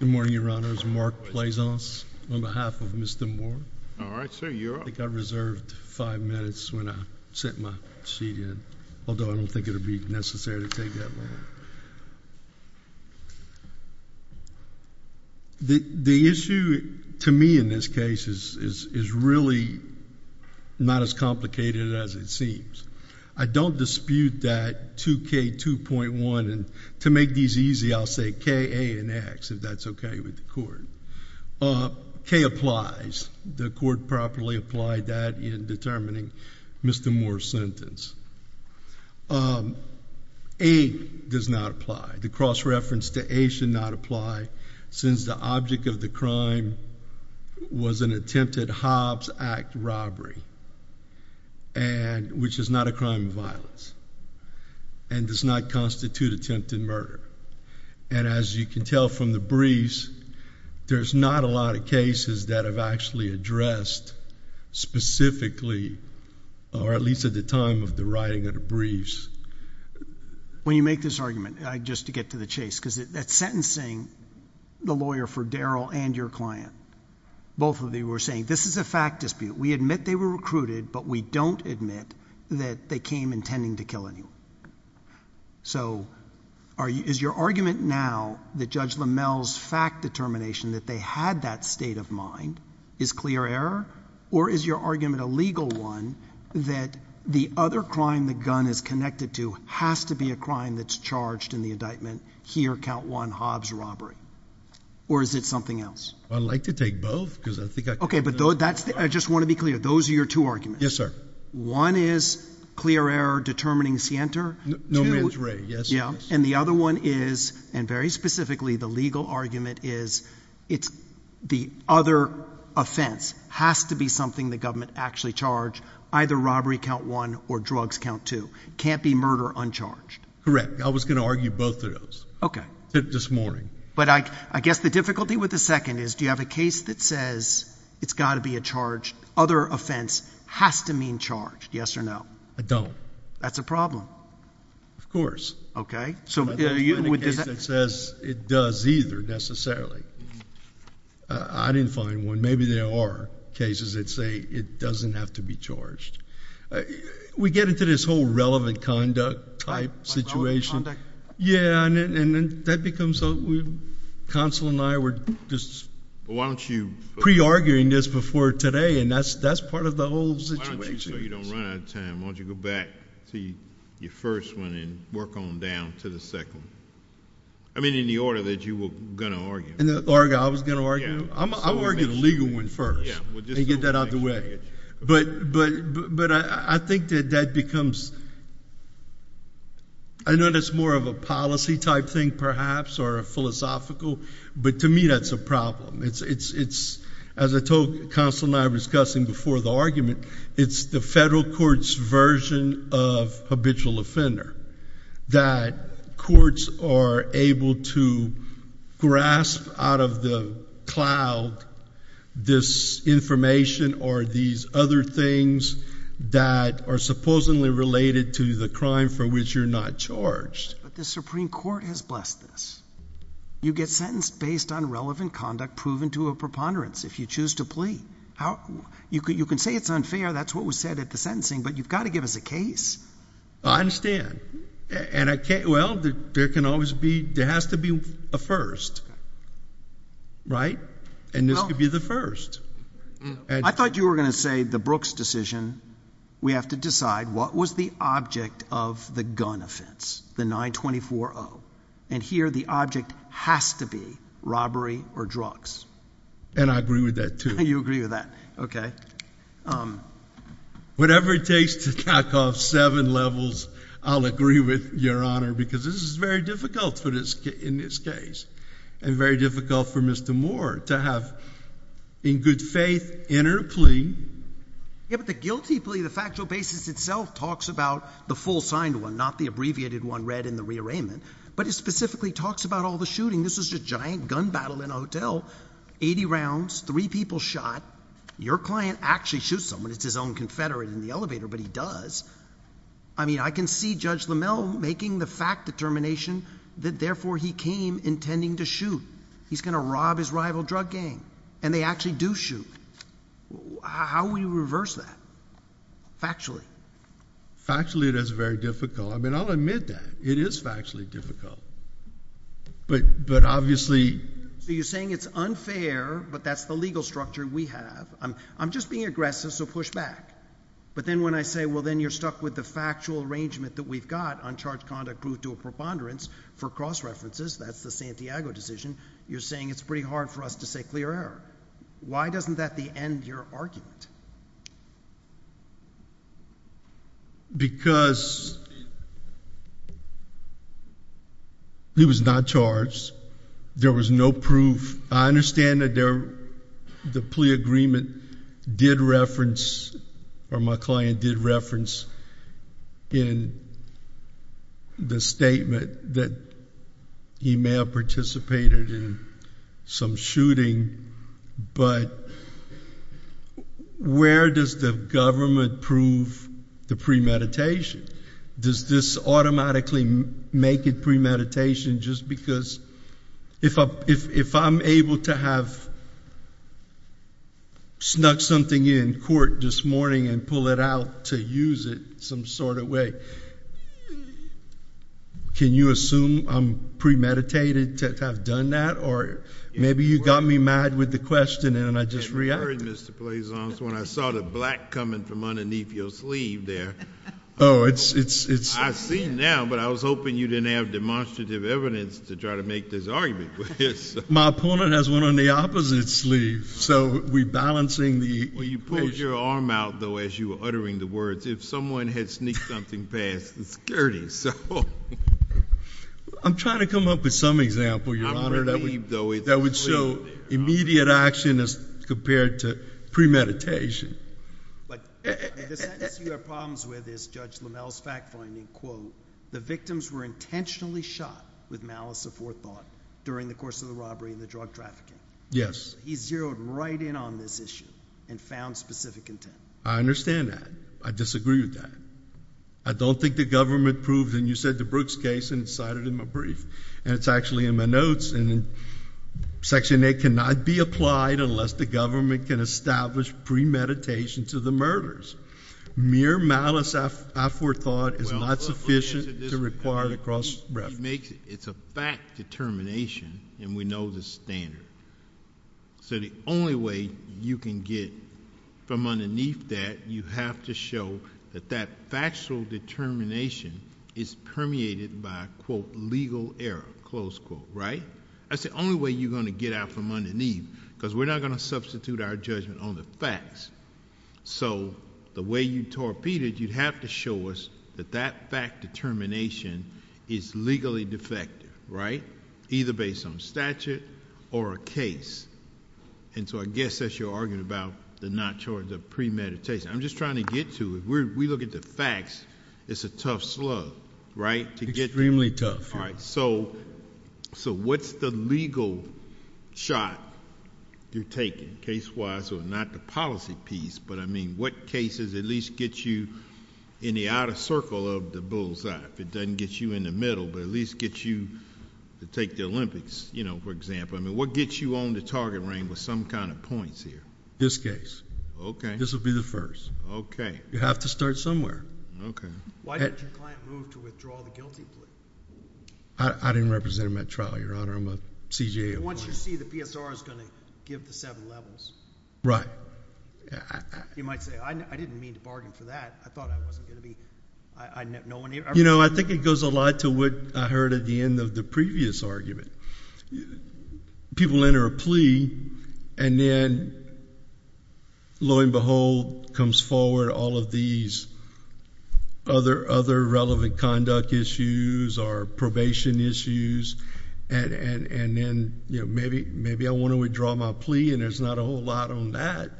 Good morning, Your Honors. Mark Plaisance on behalf of Mr. Moore. All right, sir. You're up. I think I reserved five minutes when I sent my seat in, although I don't think it'll be necessary to take that long. The issue to me in this case is really not as complicated as it seems. I don't dispute that 2K2.1, and to make these easy, I'll say K, A, and X, if that's okay with the court. K applies. The court properly applied that in determining Mr. Moore's sentence. A does not apply. The cross-reference to A should not apply, since the object of the crime was an attempted Hobbs Act robbery, which is not a crime of violence, and does not constitute attempted murder. And as you can tell from the briefs, there's not a lot of cases that have actually addressed specifically, or at least at the time of the writing of the briefs. When you make this argument, just to get to the chase, because that's sentencing the lawyer for Daryl and your client. Both of you were saying, this is a fact dispute. We admit they were recruited, but we don't admit that they came intending to kill anyone. So, is your argument now, that Judge LaMelle's fact determination that they had that state of mind, is clear error? Or is your argument a legal one, that the other crime the gun is connected to has to be a crime that's charged in the indictment, here, count one, Hobbs robbery? Or is it something else? I'd like to take both, because I think I can. Okay, but I just want to be clear. Those are your two arguments? Yes, sir. One is clear error determining scienter? No, ma'am, that's right. Yes, yes. And the other one is, and very specifically, the legal argument is, the other offense has to be something the government actually charged, either robbery count one or drugs count two. Can't be murder uncharged. Correct. I was going to argue both of those. Okay. This morning. But I guess the difficulty with the second is, do you have a case that says, it's got to be a charge, other offense has to mean charge, yes or no? I don't. That's a problem. Of course. Okay. It doesn't say it does either, necessarily. I didn't find one. Maybe there are cases that say it doesn't have to be charged. We get into this whole relevant conduct type situation. Relevant conduct? Yeah, and that becomes, counsel and I were just pre-arguing this before today, and that's part of the whole situation. Why don't you, so you don't run out of time, why don't you go back to your first one and work on down to the second one? I mean, in the order that you were going to argue. In the order I was going to argue? Yeah. I'm going to argue the legal one first and get that out of the way. But I think that that becomes, I know that's more of a policy type thing, perhaps, or a philosophical, but to me that's a problem. It's, as I told counsel and I were discussing before the argument, it's the federal court's version of habitual offender. That courts are able to grasp out of the cloud this information or these other things that are supposedly related to the crime for which you're not charged. But the Supreme Court has blessed this. You get sentenced based on relevant conduct proven to a preponderance if you choose to plea. You can say it's unfair, that's what was said at the sentencing, but you've got to give us a case. I understand. And I can't, well, there can always be, there has to be a first, right? And this could be the first. I thought you were going to say the Brooks decision, we have to decide what was the object of the gun offense, the 924-0. And here the object has to be robbery or drugs. And I agree with that, too. You agree with that. Okay. Whatever it takes to tack off seven levels, I'll agree with Your Honor, because this is very difficult in this case. And very difficult for Mr. Moore to have, in good faith, enter a plea. Yeah, but the guilty plea, the factual basis itself talks about the full signed one, not the abbreviated one read in the rearrangement. But it specifically talks about all the shooting. This was a giant gun battle in a hotel. Eighty rounds. Three people shot. Your client actually shoots someone. It's his own confederate in the elevator, but he does. I mean, I can see Judge LaMelle making the fact determination that therefore he came intending to shoot. He's going to rob his rival drug gang. And they actually do shoot. How will you reverse that factually? Factually it is very difficult. I mean, I'll admit that. It is factually difficult. But obviously... So you're saying it's unfair, but that's the legal structure we have. I'm just being aggressive, so push back. But then when I say, well, then you're stuck with the factual arrangement that we've got, uncharged conduct proved to be a preponderance for cross-references, that's the Santiago decision, you're saying it's pretty hard for us to say clear error. Why doesn't that end your argument? Because he was not charged. There was no proof. I understand that the plea agreement did reference, or my client did reference, in the statement that he may have participated in some shooting. But where does the government prove the premeditation? Does this automatically make it premeditation just because... If I'm able to have snuck something in court this morning and pull it out to use it some sort of way, can you assume I'm premeditated to have done that? Or maybe you got me mad with the question, and I just reacted. I'm worried, Mr. Plazon, when I saw the black coming from underneath your sleeve there. Oh, it's... I see now, but I was hoping you didn't have demonstrative evidence to try to make this argument. My opponent has one on the opposite sleeve, so we're balancing the... Well, you pulled your arm out, though, as you were uttering the words. If someone had sneaked something past, it's dirty. I'm trying to come up with some example, Your Honor. I'm relieved, though... That would show immediate action as compared to premeditation. But the sentence you have problems with is Judge Lammel's fact finding, quote, the victims were intentionally shot with malice aforethought during the course of the robbery and the drug trafficking. Yes. He zeroed right in on this issue and found specific intent. I understand that. I disagree with that. I don't think the government proved, and you said the Brooks case, and it's cited in my brief, and it's actually in my notes, and Section 8 cannot be applied unless the government can establish premeditation to the murders. Mere malice aforethought is not sufficient to require the cross reference. It's a fact determination, and we know the standard. So the only way you can get from underneath that, you have to show that that factual determination is permeated by, quote, legal error, close quote, right? That's the only way you're going to get out from underneath, because we're not going to substitute our judgment on the facts. So the way you torpedoed, you'd have to show us that that fact determination is legally defective, right, either based on statute or a case. And so I guess that's your argument about the premeditation. I'm just trying to get to it. We look at the facts. It's a tough slug, right? Extremely tough. All right. So what's the legal shot you're taking, case-wise, or not the policy piece, but, I mean, what cases at least get you in the outer circle of the bullseye, if it doesn't get you in the middle, but at least get you to take the Olympics, you know, for example? I mean, what gets you on the target ring with some kind of points here? This case. Okay. This will be the first. Okay. You have to start somewhere. Okay. Why did your client move to withdraw the guilty plea? I didn't represent him at trial, Your Honor. I'm a CJA. Once you see the PSR is going to give the seven levels. Right. You might say, I didn't mean to bargain for that. I thought I wasn't going to be. You know, I think it goes a lot to what I heard at the end of the previous argument. People enter a plea, and then lo and behold comes forward all of these other relevant conduct issues or probation issues, and then, you know, maybe I want to withdraw my plea, and there's not a whole lot on that,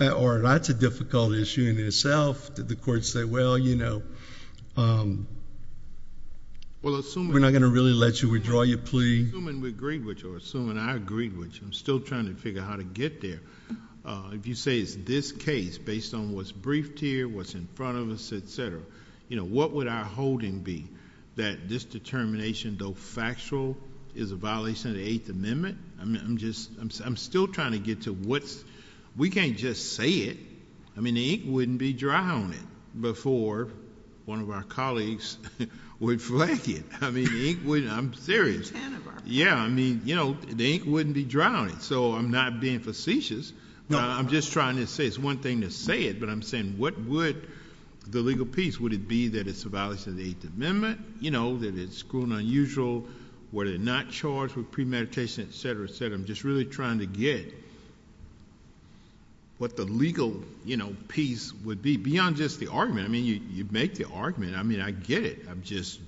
or that's a difficult issue in itself. Did the court say, well, you know, we're not going to really let you withdraw your plea? Assuming we agreed with you or assuming I agreed with you, I'm still trying to figure out how to get there. If you say it's this case based on what's briefed here, what's in front of us, et cetera, you know, what would our holding be that this determination, though factual, is a violation of the Eighth Amendment? I'm still trying to get to what's... we can't just say it. I mean, the ink wouldn't be dry on it before one of our colleagues would flag it. I mean, the ink wouldn't... I'm serious. Yeah, I mean, you know, the ink wouldn't be dry on it, so I'm not being facetious. I'm just trying to say it's one thing to say it, but I'm saying what would the legal piece... would it be that it's a violation of the Eighth Amendment, you know, that it's school and unusual, whether they're not charged with premeditation, et cetera, et cetera. I'm just really trying to get what the legal, you know, piece would be, beyond just the argument. I mean, you make the argument. I mean, I get it. I'm just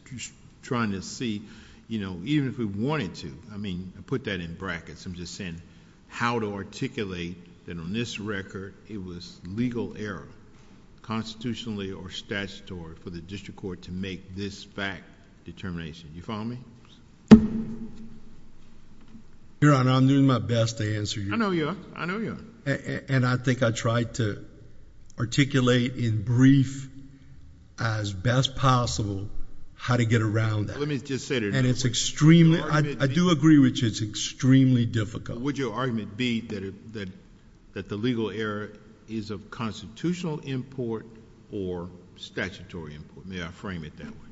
trying to see, you know, even if we wanted to. I mean, I put that in brackets. I'm just saying how to articulate that on this record it was legal error, constitutionally or statutorily, for the district court to make this fact determination. You follow me? Your Honor, I'm doing my best to answer you. I know you are. I know you are. And I think I tried to articulate in brief, as best possible, how to get around that. Let me just say... And it's extremely... I do agree with you, it's extremely difficult. Would your argument be that the legal error is of constitutional import or statutory import? May I frame it that way?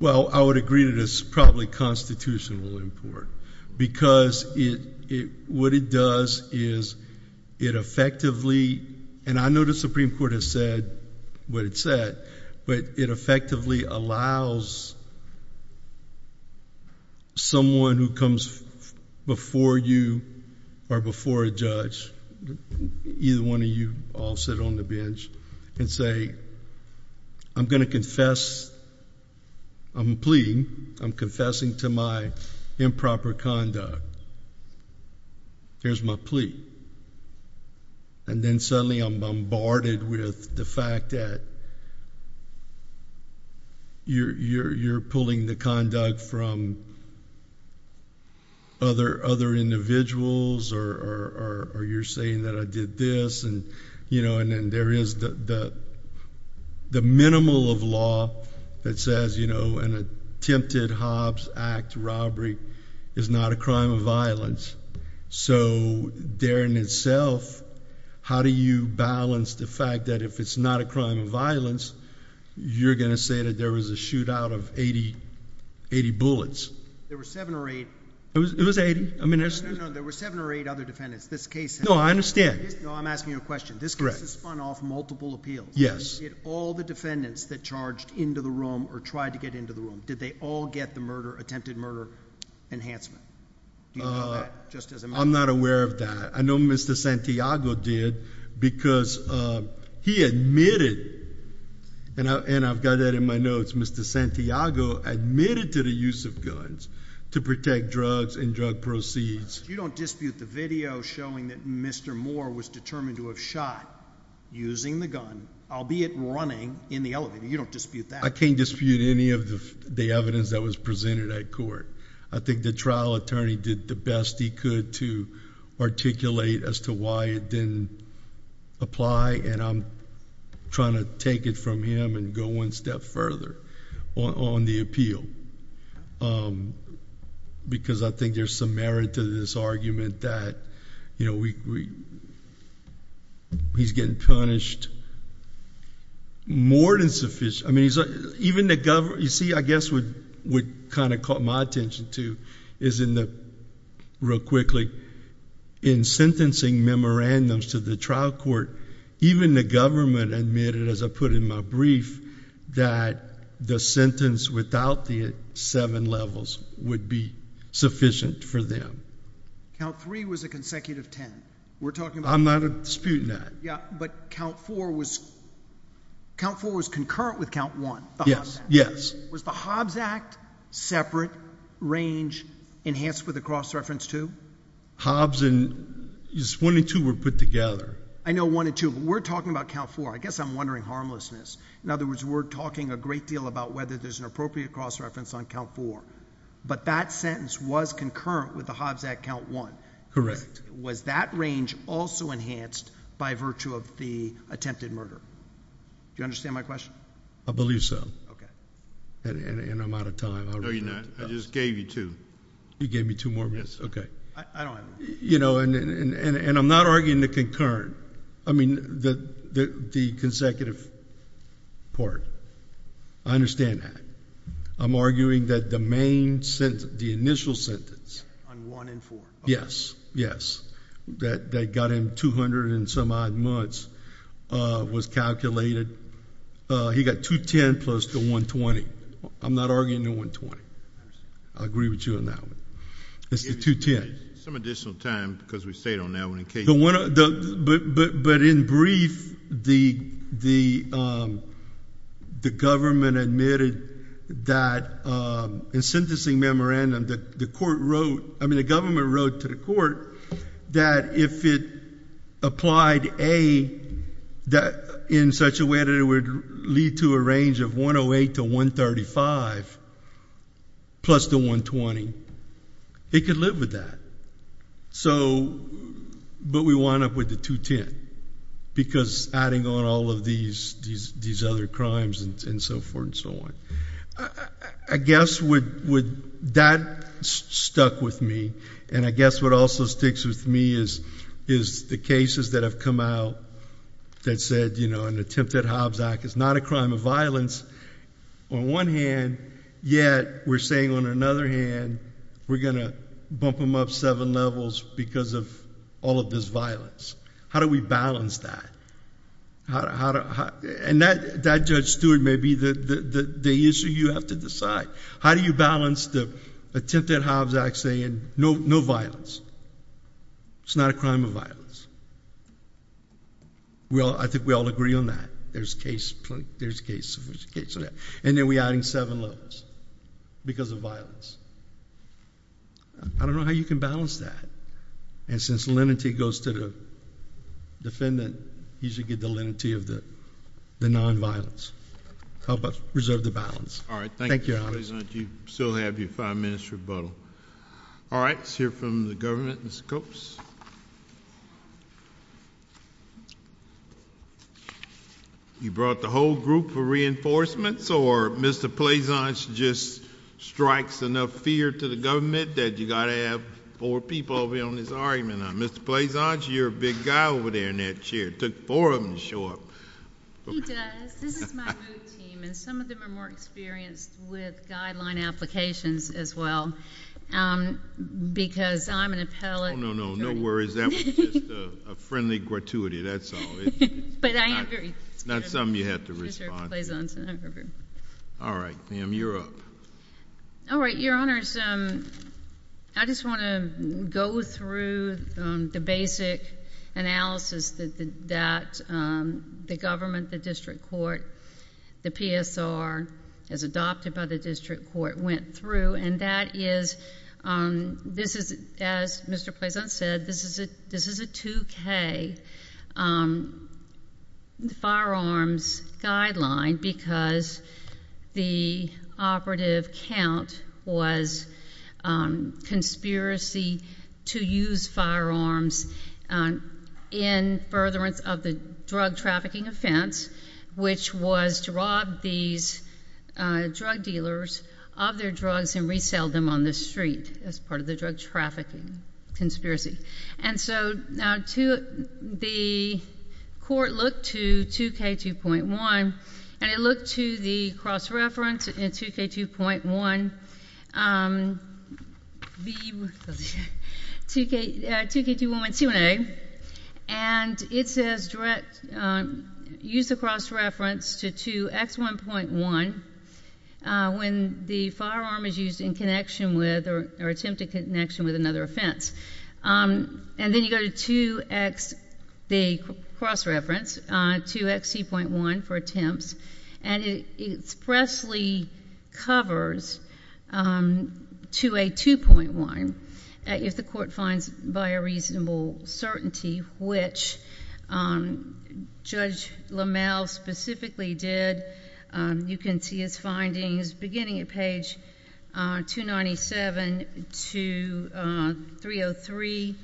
Well, I would agree that it's probably constitutional import because what it does is it effectively... And I know the Supreme Court has said what it said, but it effectively allows someone who comes before you or before a judge, either one of you, I'll sit on the bench, and say, I'm going to confess, I'm pleading, I'm confessing to my improper conduct. Here's my plea. And then suddenly I'm bombarded with the fact that you're pulling the conduct from other individuals or you're saying that I did this. And there is the minimal of law that says an attempted Hobbs Act robbery is not a crime of violence. So there in itself, how do you balance the fact that if it's not a crime of violence, you're going to say that there was a shootout of 80 bullets? There were seven or eight. It was 80. No, no, no. There were seven or eight other defendants. This case... No, I understand. No, I'm asking you a question. This case has spun off multiple appeals. Yes. Did all the defendants that charged into the room or tried to get into the room, did they all get the attempted murder enhancement? Do you know that, just as a matter of fact? I'm not aware of that. I know Mr. Santiago did because he admitted, and I've got that in my notes, Mr. Santiago admitted to the use of guns to protect drugs and drug proceeds. You don't dispute the video showing that Mr. Moore was determined to have shot using the gun, albeit running, in the elevator. You don't dispute that. I can't dispute any of the evidence that was presented at court. I think the trial attorney did the best he could to articulate as to why it didn't apply, and I'm trying to take it from him and go one step further on the appeal, because I think there's some merit to this argument that he's getting punished more than sufficient. I mean, even the government... You see, I guess what kind of caught my attention, too, is in the... real quickly, in sentencing memorandums to the trial court, even the government admitted, as I put in my brief, that the sentence without the seven levels would be sufficient for them. Count three was a consecutive ten. We're talking about... I'm not disputing that. Yeah, but count four was concurrent with count one, the Hobbs Act. Yes, yes. Was the Hobbs Act separate range enhanced with the cross-reference two? Hobbs and... one and two were put together. I know one and two, but we're talking about count four. I guess I'm wondering harmlessness. In other words, we're talking a great deal about whether there's an appropriate cross-reference on count four, but that sentence was concurrent with the Hobbs Act count one. Correct. Was that range also enhanced by virtue of the attempted murder? Do you understand my question? I believe so. Okay. And I'm out of time. No, you're not. I just gave you two. You gave me two more minutes? Yes. Okay. I don't have them. And I'm not arguing the concurrent. I mean the consecutive part. I understand that. I'm arguing that the main sentence, the initial sentence... On one and four. Yes, yes. That got him 200 and some odd months was calculated. He got 210 plus the 120. I'm not arguing the 120. I agree with you on that one. It's the 210. Give me some additional time because we stayed on that one in case... But in brief, the government admitted that in sentencing memorandum, the court wrote...... admitted it would lead to a range of 108 to 135 plus the 120. It could live with that. But we wound up with the 210 because adding on all of these other crimes and so forth and so on. I guess that stuck with me. And I guess what also sticks with me is the cases that have come out that said an attempted Hobbs Act is not a crime of violence on one hand. Yet, we're saying on another hand, we're going to bump them up seven levels because of all of this violence. How do we balance that? And that, Judge Stewart, may be the issue you have to decide. How do you balance the attempted Hobbs Act saying no violence? It's not a crime of violence. I think we all agree on that. There's case... And then we're adding seven levels because of violence. I don't know how you can balance that. And since lenity goes to the defendant, he should get the lenity of the nonviolence. How about reserve the balance? Thank you, Your Honor. You still have your five minutes rebuttal. All right, let's hear from the government. Mr. Copes? You brought the whole group for reinforcements or Mr. Pleasant just strikes enough fear to the government that you've got to have four people over here on this argument? Mr. Pleasant, you're a big guy over there in that chair. It took four of them to show up. He does. This is my new team, and some of them are more experienced with guideline applications as well because I'm an appellate... Oh, no, no. No worries. That was just a friendly gratuity. That's all. But I am very... Not something you have to respond to. Mr. Pleasant... All right. Ma'am, you're up. All right. Your Honors, I just want to go through the basic analysis that the government, the district court, the PSR, as adopted by the district court, went through. And that is, this is, as Mr. Pleasant said, this is a 2K firearms guideline because the operative count was conspiracy to use firearms in furtherance of the drug trafficking offense, which was to rob these drug dealers of their drugs and resell them on the street as part of the drug trafficking conspiracy. And so, the court looked to 2K2.1, and it looked to the cross-reference in 2K2.1, 2K2.1C1A, and it says, use the cross-reference to 2X1.1 when the firearm is used in connection with or attempted connection with another offense. And then you go to 2X, the cross-reference, 2XC.1 for attempts, and it expressly covers 2A2.1 if the court finds by a reasonable certainty, which Judge LaMalve specifically did. You can see his findings beginning at page 297 to 303,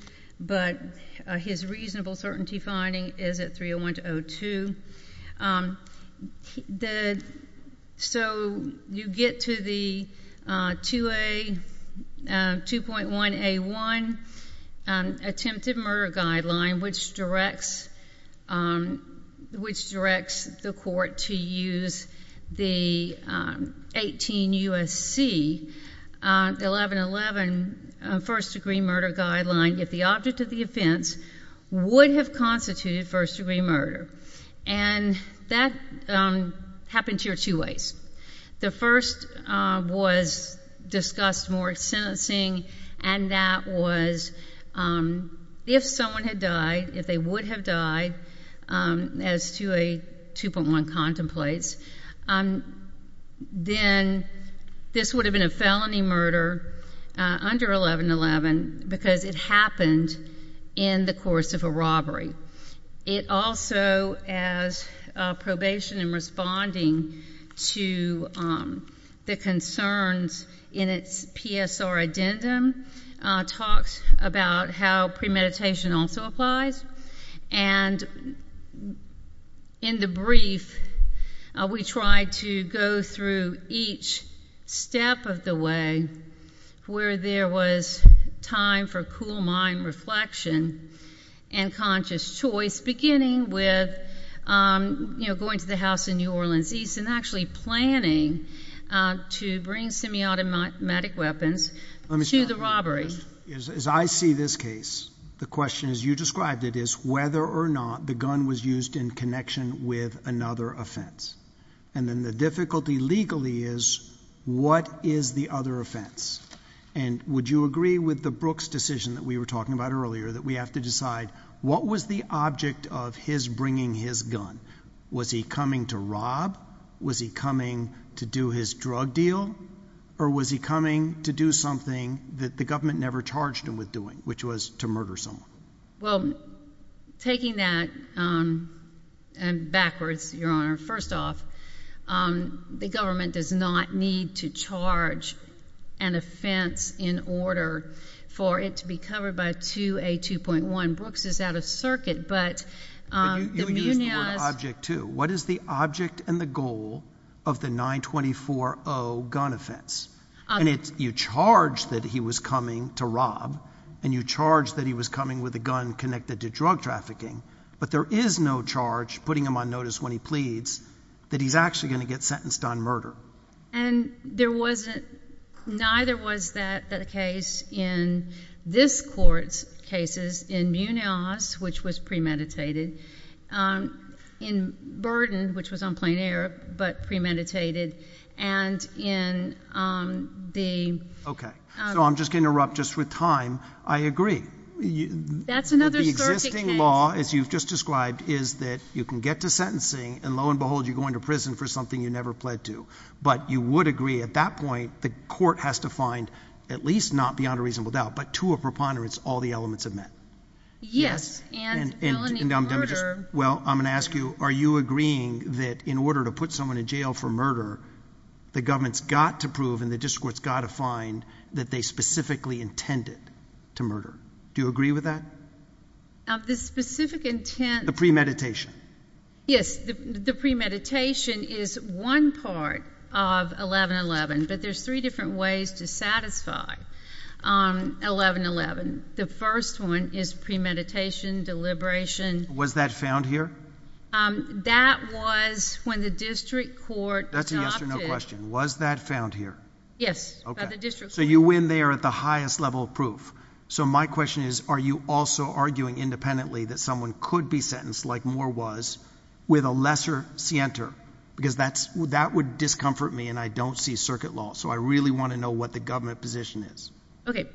but his reasonable certainty finding is at 301 to 302. So, you get to the 2.1A1 attempted murder guideline, which directs the court to use the 18U.S.C. 1111 first degree murder guideline if the object of the offense would have constituted first degree murder. And that happened here two ways. The first was discussed more in sentencing, and that was if someone had died, if they would have died as 2A2.1 contemplates, then this would have been a felony murder under 1111 because it happened in the course of a robbery. It also, as probation in responding to the concerns in its PSR addendum, talks about how premeditation also applies. And in the brief, we tried to go through each step of the way where there was time for cool mind reflection and conscious choice, beginning with going to the house in New Orleans East and actually planning to bring semi-automatic weapons to the robbery. As I see this case, the question, as you described it, is whether or not the gun was used in connection with another offense. And then the difficulty legally is, what is the other offense? And would you agree with the Brooks decision that we were talking about earlier that we have to decide what was the object of his bringing his gun? Was he coming to rob? Was he coming to do his drug deal? Or was he coming to do something that the government never charged him with doing, which was to murder someone? Well, taking that backwards, Your Honor, first off, the government does not need to charge an offense in order for it to be covered by 2A2.1. You used the word object, too. What is the object and the goal of the 924-0 gun offense? And you charge that he was coming to rob, and you charge that he was coming with a gun connected to drug trafficking. But there is no charge, putting him on notice when he pleads, that he's actually going to get sentenced on murder. And there wasn't ñ neither was that the case in this court's cases in Munoz, which was premeditated, in Burden, which was on plain error, but premeditated, and in the ñ Okay. So I'm just going to interrupt just with time. I agree. That's another circuit case. The law, as you've just described, is that you can get to sentencing, and lo and behold, you go into prison for something you never pled to. But you would agree, at that point, the court has to find, at least not beyond a reasonable doubt, but to a preponderance, all the elements of that. Yes. And felony murder. Well, I'm going to ask you, are you agreeing that in order to put someone in jail for murder, the government's got to prove and the district court's got to find that they specifically intended to murder? Do you agree with that? Of the specific intent. The premeditation. Yes. The premeditation is one part of 1111, but there's three different ways to satisfy 1111. The first one is premeditation, deliberation. Was that found here? That was when the district court adopted. That's a yes or no question. Was that found here? Yes, by the district court. Okay. So you win there at the highest level of proof. So my question is, are you also arguing independently that someone could be sentenced, like Moore was, with a lesser scienter? Because that would discomfort me, and I don't see circuit law. So I really want to know what the government position is. Okay.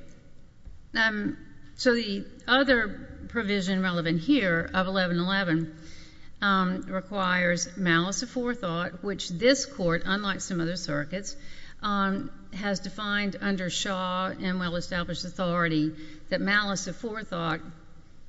So the other provision relevant here of 1111 requires malice of forethought, which this court, unlike some other circuits, has defined under Shaw and well-established authority that malice of forethought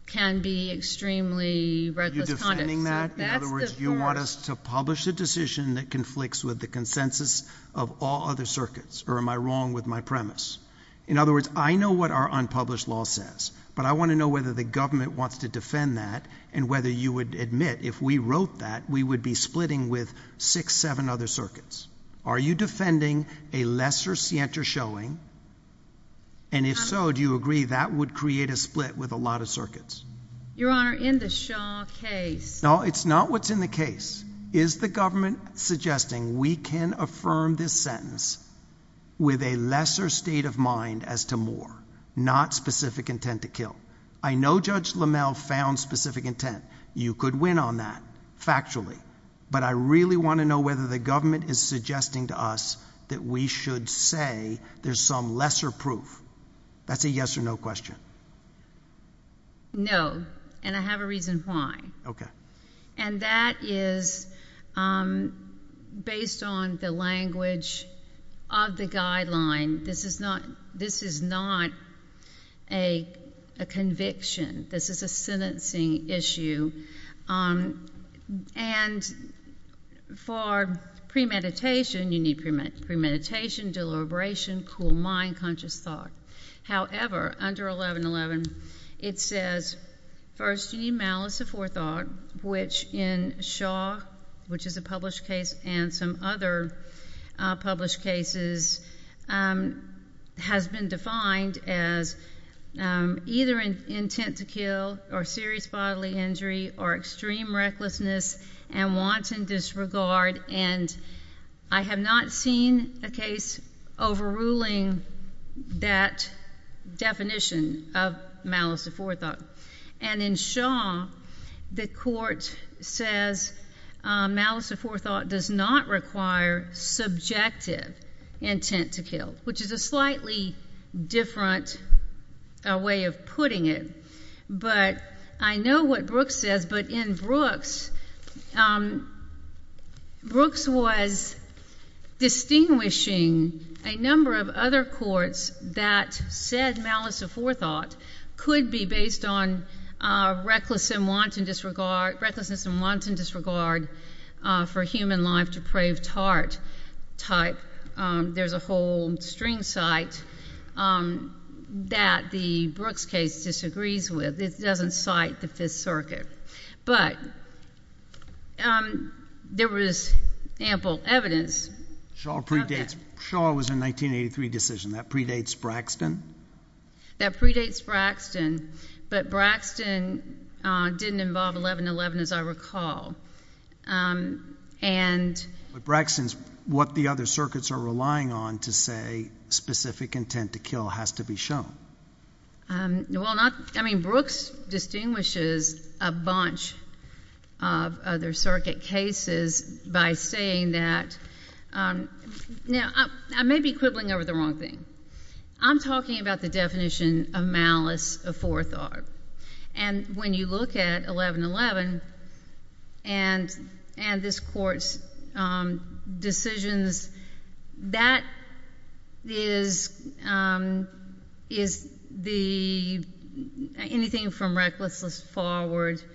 can be extremely reckless conduct. Are you defending that? In other words, you want us to publish a decision that conflicts with the consensus of all other circuits, or am I wrong with my premise? In other words, I know what our unpublished law says, but I want to know whether the government wants to defend that and whether you would admit, if we wrote that, we would be splitting with six, seven other circuits. Are you defending a lesser scienter showing? And if so, do you agree that would create a split with a lot of circuits? Your Honor, in the Shaw case. No, it's not what's in the case. Is the government suggesting we can affirm this sentence with a lesser state of mind as to more, not specific intent to kill? I know Judge LaMalle found specific intent. You could win on that factually, but I really want to know whether the government is suggesting to us that we should say there's some lesser proof. That's a yes or no question. No, and I have a reason why. Okay. And that is based on the language of the guideline. This is not a conviction. This is a sentencing issue, and for premeditation, you need premeditation, deliberation, cool mind, conscious thought. However, under 1111, it says, first, you need malice of forethought, which in Shaw, which is a published case and some other published cases, has been defined as either intent to kill or serious bodily injury or extreme recklessness and wanton disregard. And I have not seen a case overruling that definition of malice of forethought. And in Shaw, the court says malice of forethought does not require subjective intent to kill, which is a slightly different way of putting it. But I know what Brooks says, but in Brooks, Brooks was distinguishing a number of other courts that said malice of forethought could be based on recklessness and wanton disregard for human life, depraved heart type. There's a whole string cite that the Brooks case disagrees with. It doesn't cite the Fifth Circuit. But there was ample evidence of that. Shaw was a 1983 decision. That predates Braxton? That predates Braxton. But Braxton didn't involve 1111, as I recall. But Braxton's what the other circuits are relying on to say specific intent to kill has to be shown. Well, I mean, Brooks distinguishes a bunch of other circuit cases by saying that—now, I may be quibbling over the wrong thing. I'm talking about the definition of malice of forethought. And when you look at 1111 and this court's decisions, that is the—anything from recklessness forward. But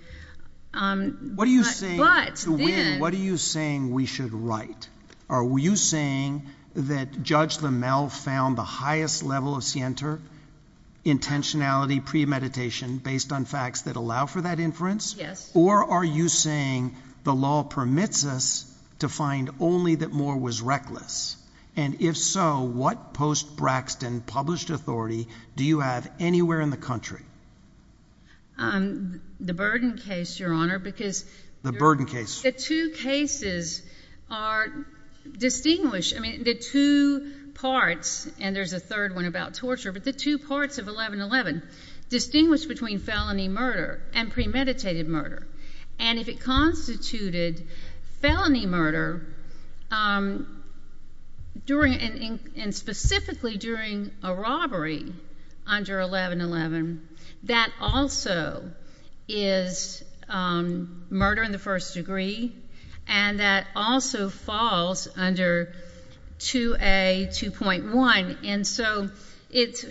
then— What are you saying—to win, what are you saying we should write? Are you saying that Judge Lamel found the highest level of scienter intentionality premeditation based on facts that allow for that inference? Yes. Or are you saying the law permits us to find only that Moore was reckless? And if so, what post-Braxton published authority do you have anywhere in the country? The Burden case, Your Honor, because— The Burden case. The two cases are distinguished—I mean, the two parts, and there's a third one about torture, but the two parts of 1111 distinguish between felony murder and premeditated murder. And if it constituted felony murder during—and specifically during a robbery under 1111, that also is murder in the first degree, and that also falls under 2A2.1. And so it's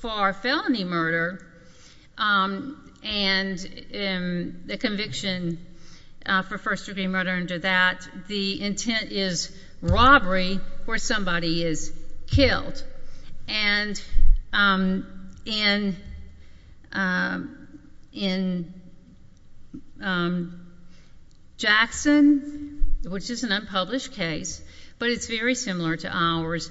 for felony murder, and the conviction for first-degree murder under that, the intent is robbery where somebody is killed. And in Jackson, which is an unpublished case, but it's very similar to ours,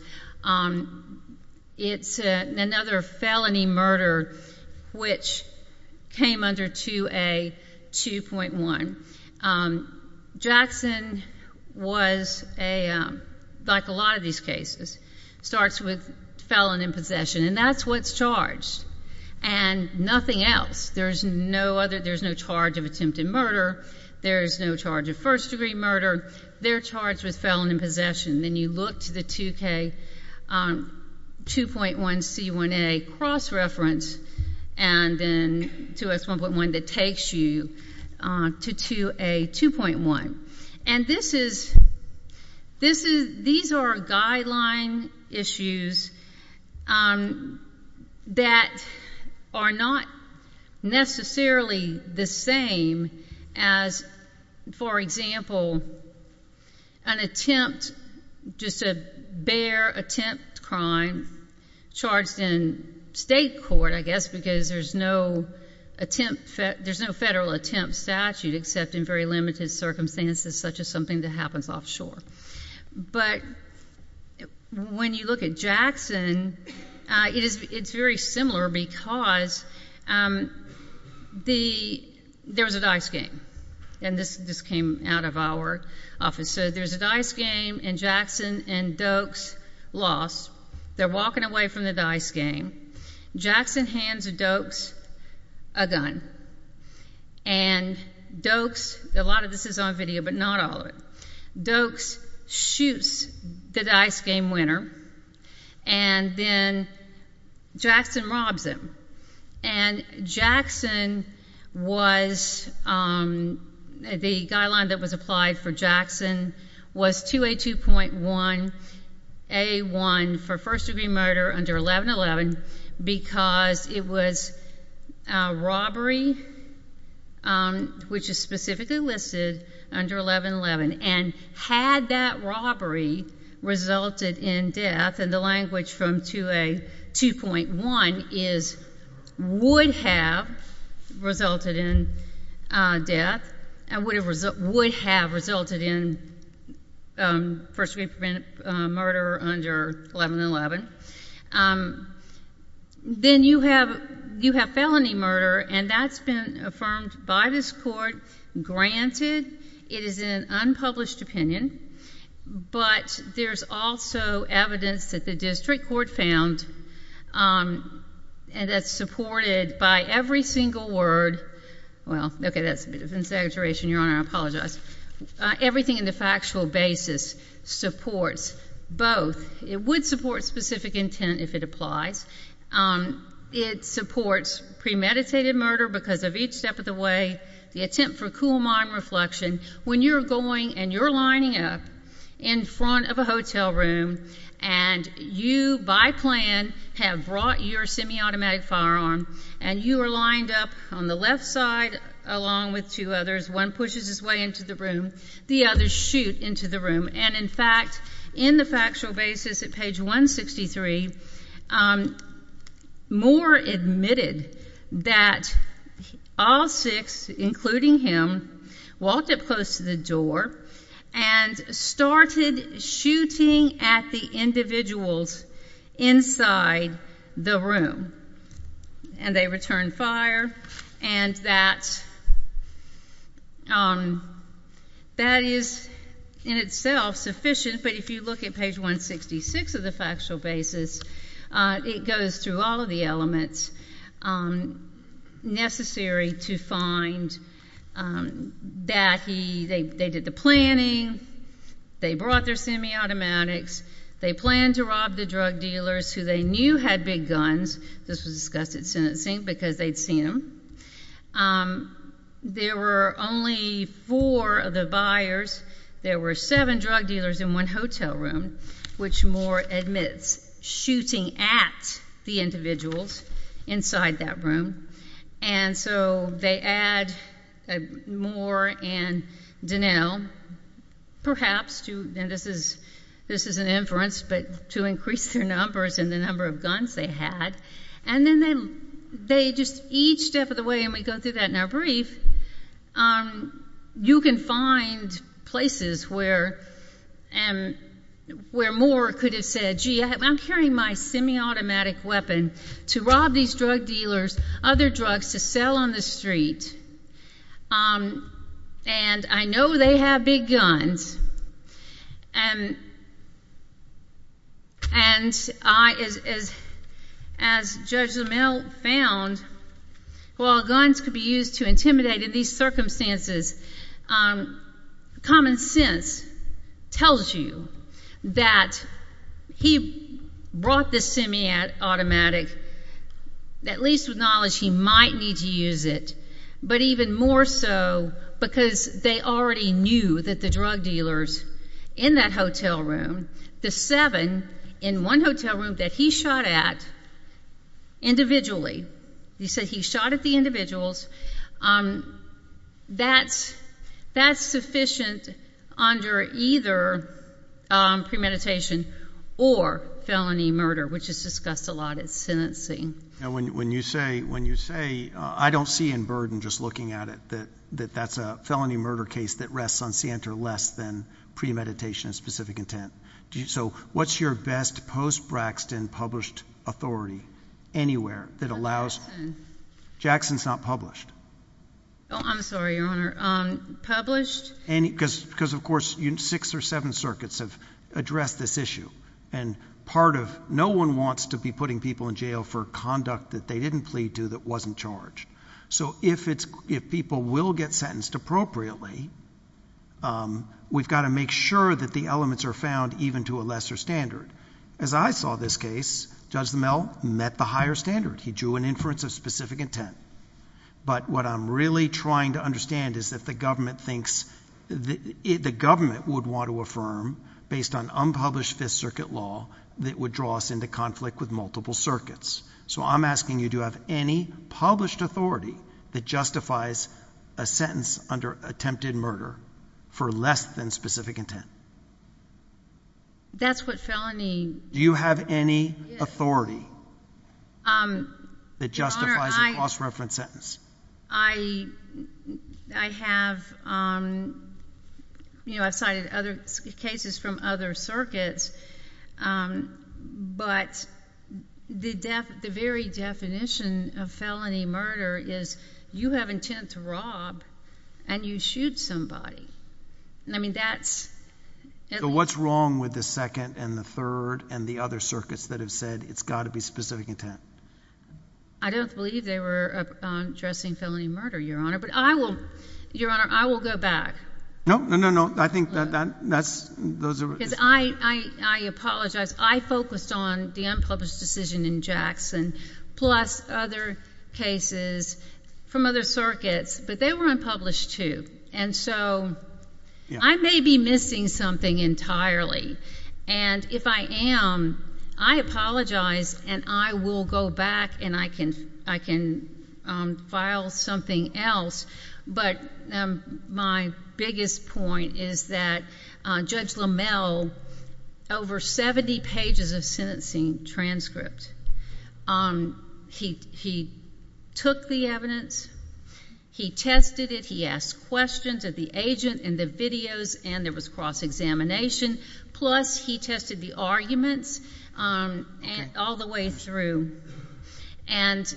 it's another felony murder which came under 2A2.1. Jackson was a—like a lot of these cases, starts with felon in possession, and that's what's charged, and nothing else. There's no other—there's no charge of attempted murder. There's no charge of first-degree murder. They're charged with felon in possession. Then you look to the 2K2.1C1A cross-reference, and then 2S1.1 that takes you to 2A2.1. And this is—these are guideline issues that are not necessarily the same as, for example, an attempt—just a bare attempt crime charged in state court, I guess, because there's no attempt—there's no federal attempt statute except in very limited circumstances such as something that happens offshore. But when you look at Jackson, it is—it's very similar because the—there was a dice game, and this came out of our office. So there's a dice game, and Jackson and Doakes lost. They're walking away from the dice game. Jackson hands Doakes a gun, and Doakes—a lot of this is on video, but not all of it—Doakes shoots the dice game winner, and then Jackson robs him. And Jackson was—the guideline that was applied for Jackson was 2A2.1A1 for first-degree murder under 1111 because it was a robbery, which is specifically listed under 1111. And had that robbery resulted in death—and the language from 2A2.1 is would have resulted in death and would have resulted in first-degree murder under 1111—then you have felony murder, and that's been affirmed by this court. Granted, it is an unpublished opinion, but there's also evidence that the district court found that's supported by every single word—well, okay, that's a bit of an exaggeration, Your Honor. I apologize. Everything in the factual basis supports both. It would support specific intent if it applies. It supports premeditated murder because of each step of the way, the attempt for cool-mind reflection. When you're going and you're lining up in front of a hotel room, and you, by plan, have brought your semi-automatic firearm, and you are lined up on the left side along with two others. One pushes his way into the room. The others shoot into the room. And, in fact, in the factual basis at page 163, Moore admitted that all six, including him, walked up close to the door and started shooting at the individuals inside the room. And they returned fire. And that is, in itself, sufficient, but if you look at page 166 of the factual basis, it goes through all of the elements necessary to find that they did the planning, they brought their semi-automatics, they planned to rob the drug dealers who they knew had big guns. This was discussed at sentencing because they'd seen them. There were only four of the buyers. There were seven drug dealers in one hotel room, which Moore admits shooting at the individuals inside that room. And so they add Moore and Donnell, perhaps, and this is an inference, but to increase their numbers and the number of guns they had. And then they just, each step of the way, and we go through that in our brief, you can find places where Moore could have said, gee, I'm carrying my semi-automatic weapon to rob these drug dealers, other drugs, to sell on the street, and I know they have big guns. And as Judge Zimmel found, while guns could be used to intimidate in these circumstances, common sense tells you that he brought this semi-automatic, at least with knowledge he might need to use it, but even more so because they already knew that the drug dealers in that hotel room, the seven in one hotel room that he shot at individually, he said he shot at the individuals, that's sufficient under either premeditation or felony murder, which is discussed a lot at sentencing. When you say, I don't see in Burden, just looking at it, that that's a felony murder case that rests on scienter less than premeditation of specific intent. So what's your best post-Braxton published authority anywhere that allows... Jackson. Jackson's not published. Oh, I'm sorry, Your Honor. Published? Because, of course, six or seven circuits have addressed this issue, and no one wants to be putting people in jail for conduct that they didn't plead to that wasn't charged. So if people will get sentenced appropriately, we've got to make sure that the elements are found even to a lesser standard. As I saw this case, Judge Zimmel met the higher standard. He drew an inference of specific intent. But what I'm really trying to understand is that the government would want to affirm, based on unpublished Fifth Circuit law, that would draw us into conflict with multiple circuits. So I'm asking you, do you have any published authority that justifies a sentence under attempted murder for less than specific intent? That's what felony... Do you have any authority? Your Honor, I... That justifies a cross-reference sentence. I have cited other cases from other circuits, but the very definition of felony murder is you have intent to rob and you shoot somebody. I mean, that's... So what's wrong with the second and the third and the other circuits that have said it's got to be specific intent? I don't believe they were addressing felony murder, Your Honor. But I will... Your Honor, I will go back. No, no, no, no. I think that's... Because I apologize. I focused on the unpublished decision in Jackson, plus other cases from other circuits. But they were unpublished, too. And so I may be missing something entirely. And if I am, I apologize and I will go back and I can file something else. But my biggest point is that Judge LaMelle, over 70 pages of sentencing transcript, he took the evidence, he tested it, he asked questions of the agent in the videos, and there was cross-examination. Plus, he tested the arguments all the way through. And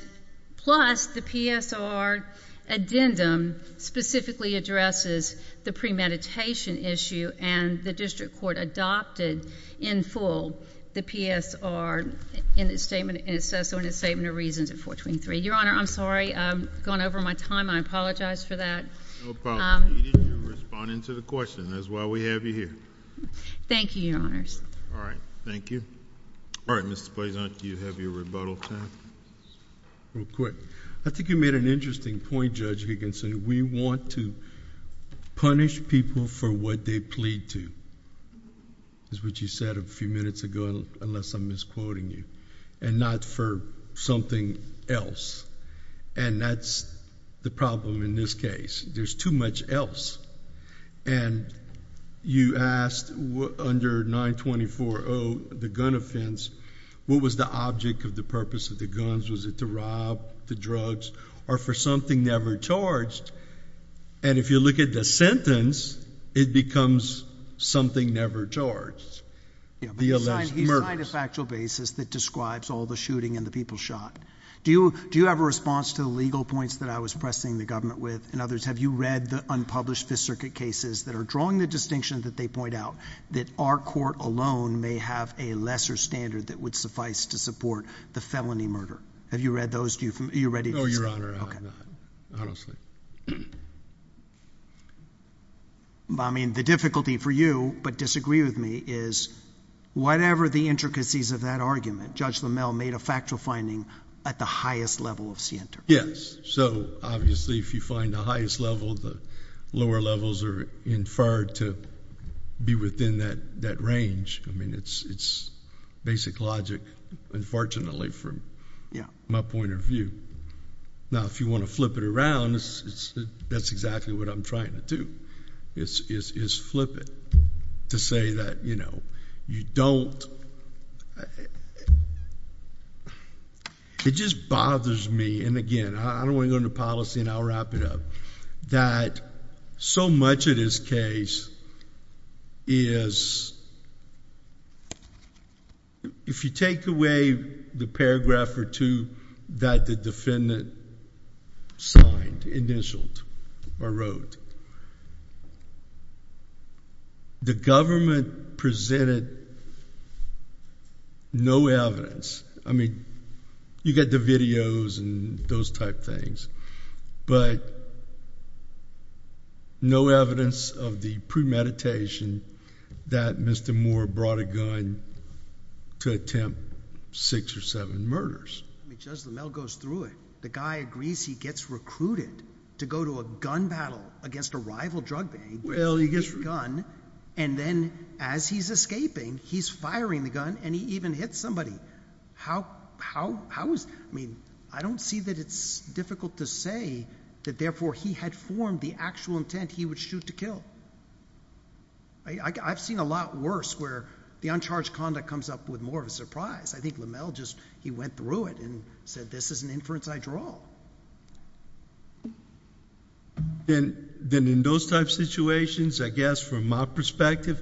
plus, the PSR addendum specifically addresses the premeditation issue, and the district court adopted in full the PSR in its statement of reasons at 423. Your Honor, I'm sorry. I've gone over my time. I apologize for that. No problem. You're responding to the question. That's why we have you here. Thank you, Your Honors. All right. Thank you. All right. Mr. Blazant, you have your rebuttal time. Real quick. I think you made an interesting point, Judge Higginson. We want to punish people for what they plead to. That's what you said a few minutes ago, unless I'm misquoting you. And not for something else. And that's the problem in this case. There's too much else. And you asked under 924-0, the gun offense, what was the object of the purpose of the guns? Was it to rob, the drugs, or for something never charged? And if you look at the sentence, it becomes something never charged. The alleged murders. Yeah, but you signed a factual basis that describes all the shooting and the people shot. Do you have a response to the legal points that I was pressing the government with? In other words, have you read the unpublished Fifth Circuit cases that are drawing the distinction that they point out that our court alone may have a lesser standard that would suffice to support the felony murder? Have you read those? Are you ready to respond? No, Your Honor. I don't see it. I mean, the difficulty for you, but disagree with me, is whatever the intricacies of that argument, Judge LaMelle made a factual finding at the highest level of SIENTA. Yes. So, obviously, if you find the highest level, the lower levels are inferred to be within that range. I mean, it's basic logic, unfortunately, from my point of view. Now, if you want to flip it around, that's exactly what I'm trying to do, is flip it to say that you don't... It just bothers me, and again, I don't want to go into policy and I'll wrap it up, that so much of this case is... The defendant signed, initialed, or wrote. The government presented no evidence. I mean, you get the videos and those type things, but no evidence of the premeditation that Mr. Moore brought a gun to attempt six or seven murders. I mean, Judge LaMelle goes through it. The guy agrees he gets recruited to go to a gun battle against a rival drug bank... Well, he gets...... with a gun, and then, as he's escaping, he's firing the gun, and he even hits somebody. How is... I mean, I don't see that it's difficult to say that, therefore, he had formed the actual intent he would shoot to kill. I've seen a lot worse, where the uncharged conduct comes up with more of a surprise. I think LaMelle just... he went through it and said, this is an inference I draw. Then, in those type situations, I guess, from my perspective,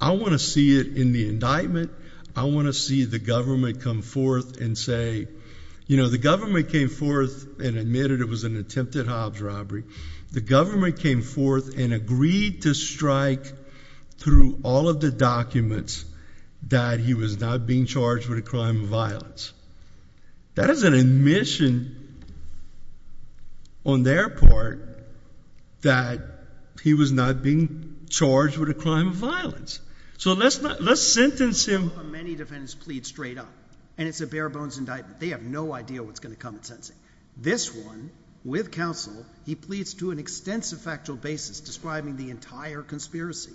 I want to see it in the indictment. I want to see the government come forth and say... You know, the government came forth and admitted it was an attempted Hobbs robbery. The government came forth and agreed to strike through all of the documents that he was not being charged with a crime of violence. That is an admission, on their part, that he was not being charged with a crime of violence. So, let's sentence him... Many defendants plead straight up, and it's a bare-bones indictment. They have no idea what's going to come in sentencing. This one, with counsel, he pleads to an extensive factual basis, describing the entire conspiracy.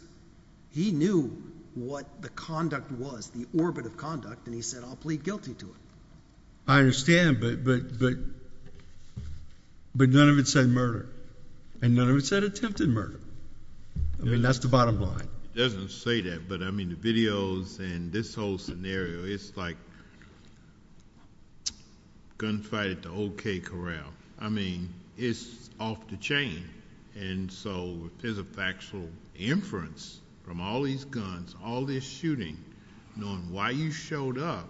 He knew what the conduct was, the orbit of conduct, and he said, I'll plead guilty to it. I understand, but none of it said murder, and none of it said attempted murder. I mean, that's the bottom line. It doesn't say that, but I mean, the videos and this whole scenario, it's like gunfight at the OK Corral. I mean, it's off the chain, and so there's a factual inference from all these guns, all this shooting, knowing why you showed up.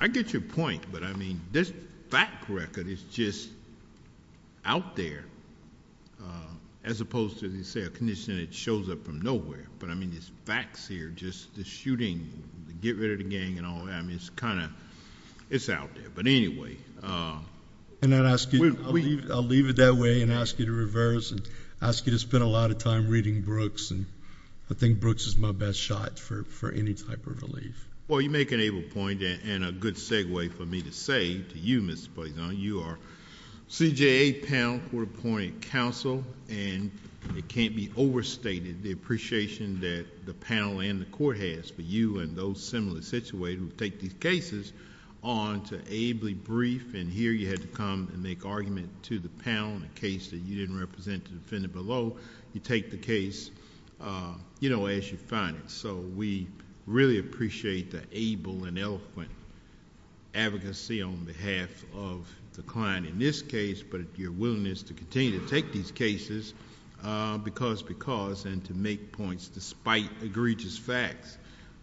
I get your point, but, I mean, this fact record is just out there, as opposed to, as you say, a condition that shows up from nowhere. But, I mean, it's facts here, just the shooting, the get-rid-of-the-gang and all that. I mean, it's kind of, it's out there, but anyway... I'll leave it that way, and ask you to reverse, and ask you to spend a lot of time reading Brooks, and I think Brooks is my best shot for any type of relief. Well, you make an able point, and a good segue for me to say to you, Mr. Poisson, you are CJA panel for appointed counsel, and it can't be overstated, the appreciation that the panel and the court has for you and those similarly situated who take these cases on to ably brief, and here you had to come and make argument to the panel in a case that you didn't represent to defend it below. You take the case, you know, as you find it. So, we really appreciate the able and eloquent advocacy on behalf of the client in this case, but your willingness to continue to take these cases, because, because, and to make points despite egregious facts,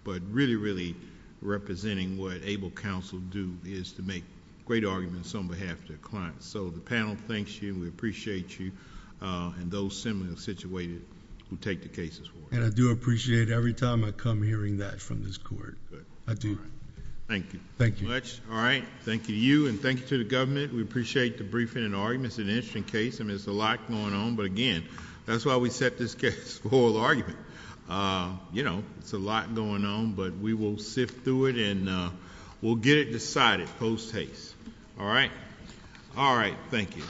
but really, really representing what able counsel do is to make great arguments on behalf of their clients. So, the panel thanks you, we appreciate you, and those similarly situated who take the cases. And I do appreciate every time I come hearing that from this court. I do. Thank you. Thank you. All right. Thank you to you, and thank you to the government. We appreciate the briefing and arguments. It's an interesting case, and there's a lot going on. But, again, that's why we set this case for oral argument. You know, it's a lot going on, but we will sift through it, and we'll get it decided post-haste. All right. All right. Thank you.